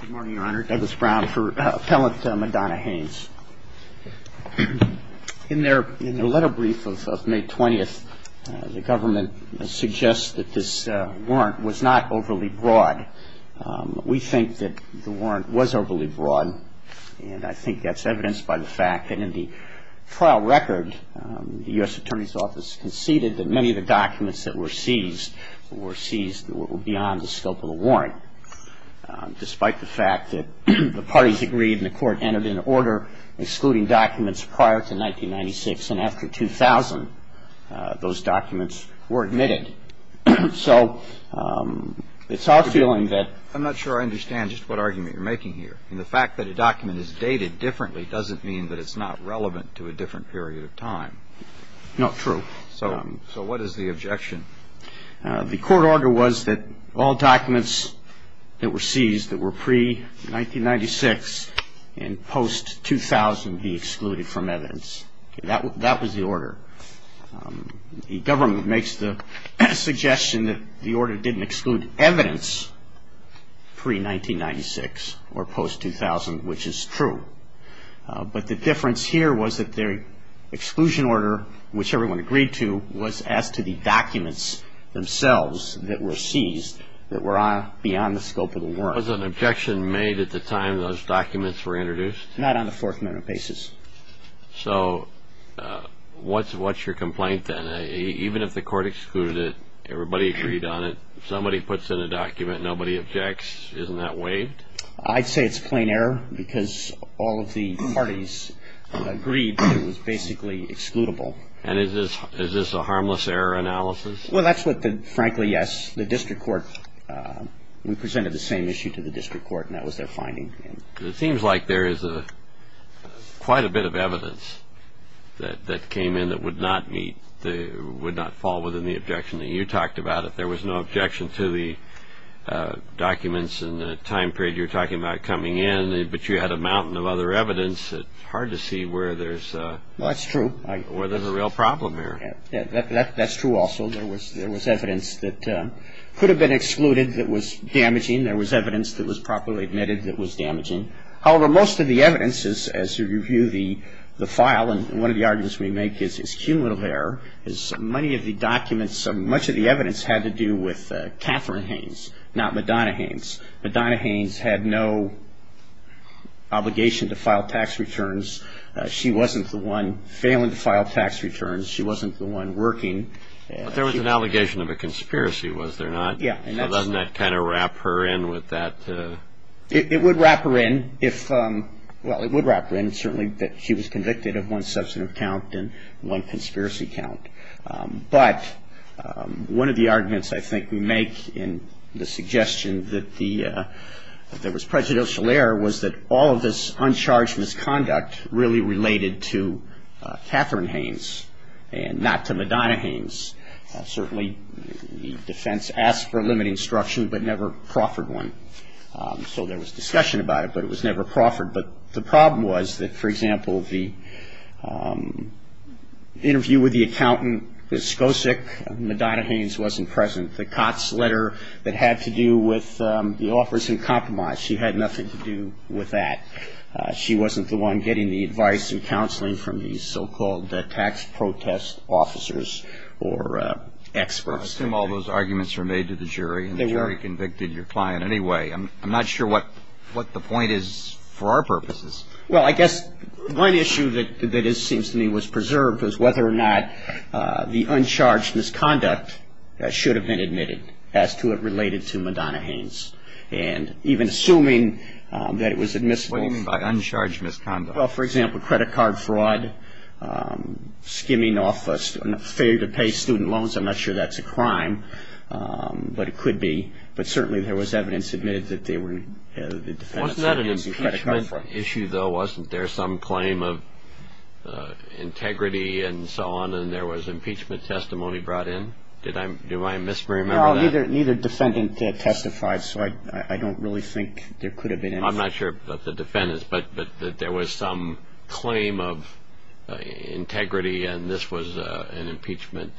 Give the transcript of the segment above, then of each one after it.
Good morning, Your Honor. Douglas Brown for Appellant Madonna Hanes. In the letter brief of May 20th, the government suggests that this warrant was not overly broad. We think that the warrant was overly broad, and I think that's evidenced by the fact that in the trial record, the U.S. Attorney's Office conceded that many of the documents that were seized were seized beyond the scope of the warrant, despite the fact that the parties agreed and the court entered into order excluding documents prior to 1996, and after 2000, those documents were admitted. So it's our feeling that I'm not sure I understand just what argument you're making here. The fact that a document is dated differently doesn't mean that it's not relevant to a different period of time. No, true. So what is the objection? The court order was that all documents that were seized that were pre-1996 and post-2000 be excluded from evidence. That was the order. The government makes the suggestion that the order didn't exclude evidence pre-1996 or post-2000, which is true. But the difference here was that the exclusion order, which everyone agreed to, was as to the documents themselves that were seized that were beyond the scope of the warrant. Was an objection made at the time those documents were introduced? Not on a Fourth Amendment basis. So what's your complaint then? Even if the court excluded it, everybody agreed on it, somebody puts in a document, nobody objects, isn't that waived? I'd say it's plain error because all of the parties agreed that it was basically excludable. And is this a harmless error analysis? Well, that's what the, frankly, yes. The district court, we presented the same issue to the district court, and that was their finding. It seems like there is quite a bit of evidence that came in that would not meet, would not fall within the objection that you talked about. There was no objection to the documents in the time period you're talking about coming in, but you had a mountain of other evidence. It's hard to see where there's a real problem here. Well, that's true. That's true also. There was evidence that could have been excluded that was damaging. There was evidence that was properly admitted that was damaging. However, most of the evidence, as you review the file, and one of the arguments we make is cumulative error, is many of the documents, much of the evidence had to do with Catherine Haynes, not Madonna Haynes. Madonna Haynes had no obligation to file tax returns. She wasn't the one failing to file tax returns. She wasn't the one working. But there was an allegation of a conspiracy, was there not? Yeah. Doesn't that kind of wrap her in with that? It would wrap her in if, well, it would wrap her in, certainly, that she was convicted of one substantive count and one conspiracy count. But one of the arguments I think we make in the suggestion that there was prejudicial error was that all of this uncharged misconduct really related to Catherine Haynes and not to Madonna Haynes. Certainly the defense asked for a limiting instruction but never proffered one. So there was discussion about it, but it was never proffered. But the problem was that, for example, the interview with the accountant at Skosik, Madonna Haynes wasn't present. The Cots letter that had to do with the offers in compromise, she had nothing to do with that. She wasn't the one getting the advice and counseling from these so-called tax protest officers or experts. I assume all those arguments were made to the jury and the jury convicted your client anyway. I'm not sure what the point is for our purposes. Well, I guess one issue that seems to me was preserved was whether or not the uncharged misconduct should have been admitted as to it related to Madonna Haynes, and even assuming that it was admissible. What do you mean by uncharged misconduct? Well, for example, credit card fraud, skimming off a failure to pay student loans. I'm not sure that's a crime, but it could be. But certainly there was evidence admitted that they were the defendants. Wasn't that an impeachment issue, though? Wasn't there some claim of integrity and so on, and there was impeachment testimony brought in? Do I misremember that? No, neither defendant testified, so I don't really think there could have been anything. I'm not sure about the defendants, but there was some claim of integrity, and this was an impeachment.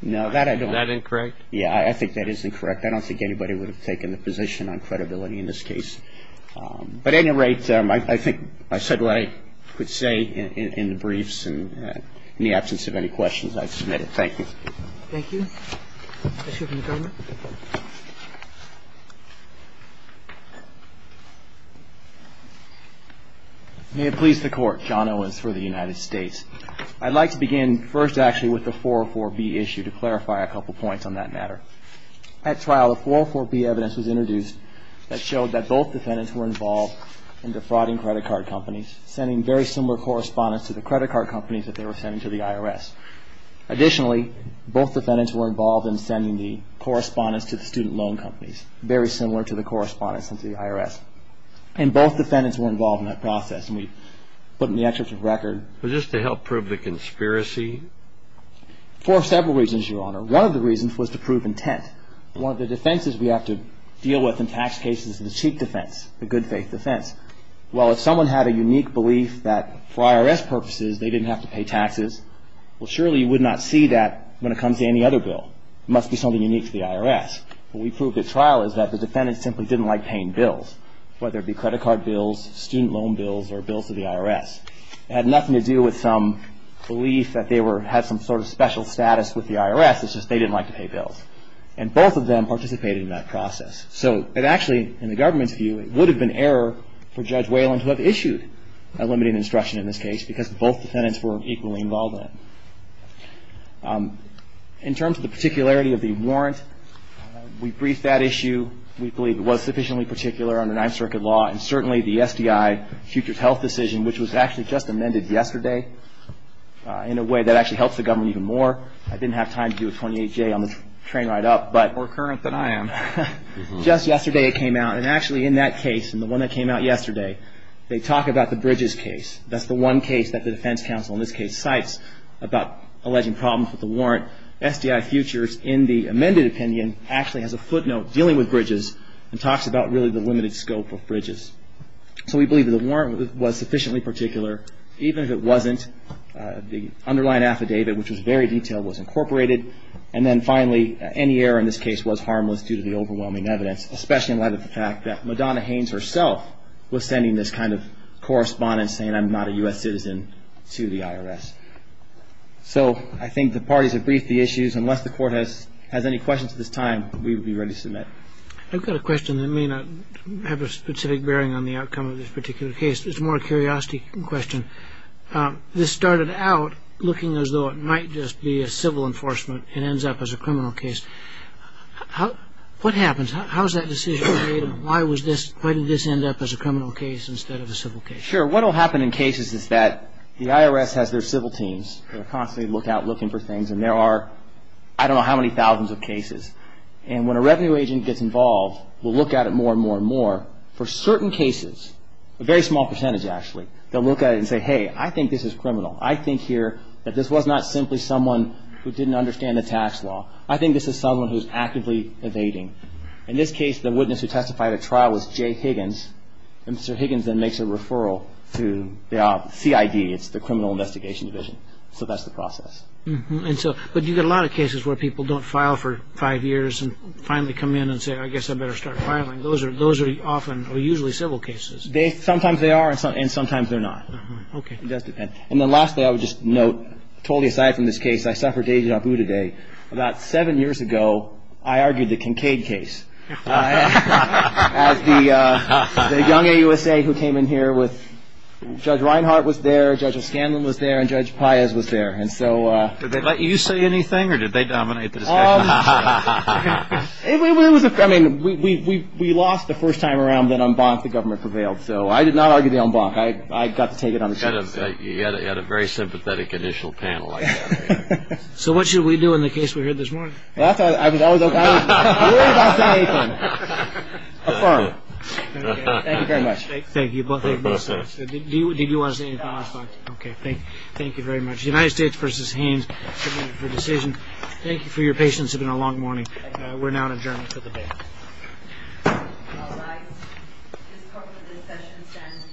No, that I don't think. Is that incorrect? Yeah, I think that is incorrect. I don't think anybody would have taken the position on credibility in this case. But at any rate, I think I said what I could say in the briefs, and in the absence of any questions, I submit it. Thank you. Thank you. Mr. Chairman, the government. May it please the Court, John Owens for the United States. I'd like to begin first, actually, with the 404B issue to clarify a couple points on that matter. At trial, the 404B evidence was introduced that showed that both defendants were involved in defrauding credit card companies, sending very similar correspondence to the credit card companies that they were sending to the IRS. Additionally, both defendants were involved in sending the correspondence to the student loan companies, very similar to the correspondence sent to the IRS. And both defendants were involved in that process, and we put in the excerpt of the record. Was this to help prove the conspiracy? For several reasons, Your Honor. One of the reasons was to prove intent. One of the defenses we have to deal with in tax cases is the cheap defense, the good faith defense. Well, if someone had a unique belief that for IRS purposes, they didn't have to pay taxes, well, surely you would not see that when it comes to any other bill. It must be something unique to the IRS. What we proved at trial is that the defendants simply didn't like paying bills, whether it be credit card bills, student loan bills, or bills to the IRS. It had nothing to do with some belief that they had some sort of special status with the IRS. It's just they didn't like to pay bills. And both of them participated in that process. So it actually, in the government's view, it would have been error for Judge Whalen to have issued a limiting instruction in this case, because both defendants were equally involved in it. In terms of the particularity of the warrant, we briefed that issue. We believe it was sufficiently particular under Ninth Circuit law, and certainly the SDI futures health decision, which was actually just amended yesterday, in a way that actually helps the government even more. I didn't have time to do a 28-J on the train ride up. More current than I am. Just yesterday it came out, and actually in that case, and the one that came out yesterday, they talk about the Bridges case. That's the one case that the defense counsel in this case cites about alleging problems with the warrant. SDI futures in the amended opinion actually has a footnote dealing with Bridges and talks about really the limited scope of Bridges. So we believe that the warrant was sufficiently particular. Even if it wasn't, the underlying affidavit, which was very detailed, was incorporated. And then finally, any error in this case was harmless due to the overwhelming evidence, especially in light of the fact that Madonna Haynes herself was sending this kind of correspondence saying I'm not a U.S. citizen to the IRS. So I think the parties have briefed the issues. Unless the court has any questions at this time, we would be ready to submit. I've got a question that may not have a specific bearing on the outcome of this particular case. It's more a curiosity question. This started out looking as though it might just be a civil enforcement and ends up as a criminal case. What happens? How is that decision made, and why did this end up as a criminal case instead of a civil case? Sure. What will happen in cases is that the IRS has their civil teams. They're constantly out looking for things, and there are I don't know how many thousands of cases. And when a revenue agent gets involved, will look at it more and more and more. For certain cases, a very small percentage actually, they'll look at it and say, hey, I think this is criminal. I think here that this was not simply someone who didn't understand the tax law. I think this is someone who's actively evading. In this case, the witness who testified at trial was Jay Higgins. And Sir Higgins then makes a referral to the CID. It's the Criminal Investigation Division. So that's the process. But you get a lot of cases where people don't file for five years and finally come in and say, I guess I better start filing. Those are often or usually civil cases. Sometimes they are, and sometimes they're not. It does depend. And then lastly, I would just note totally aside from this case, I suffered deja vu today. About seven years ago, I argued the Kincaid case. As the young AUSA who came in here with Judge Reinhart was there, Judge O'Scanlan was there, and Judge Paez was there. Did they let you say anything, or did they dominate the discussion? We lost the first time around, then en banc, the government prevailed. So I did not argue the en banc. I got to take it on the show. You had a very sympathetic initial panel. So what should we do in the case we heard this morning? Well, that's what I was going to say. Affirm. Thank you very much. Thank you both. Did you want to say anything last night? No. Okay. Thank you very much. United States v. Hanes, for your decision. Thank you for your patience. It's been a long morning. We're now in adjournment for the day. All rise. This session stands adjourned.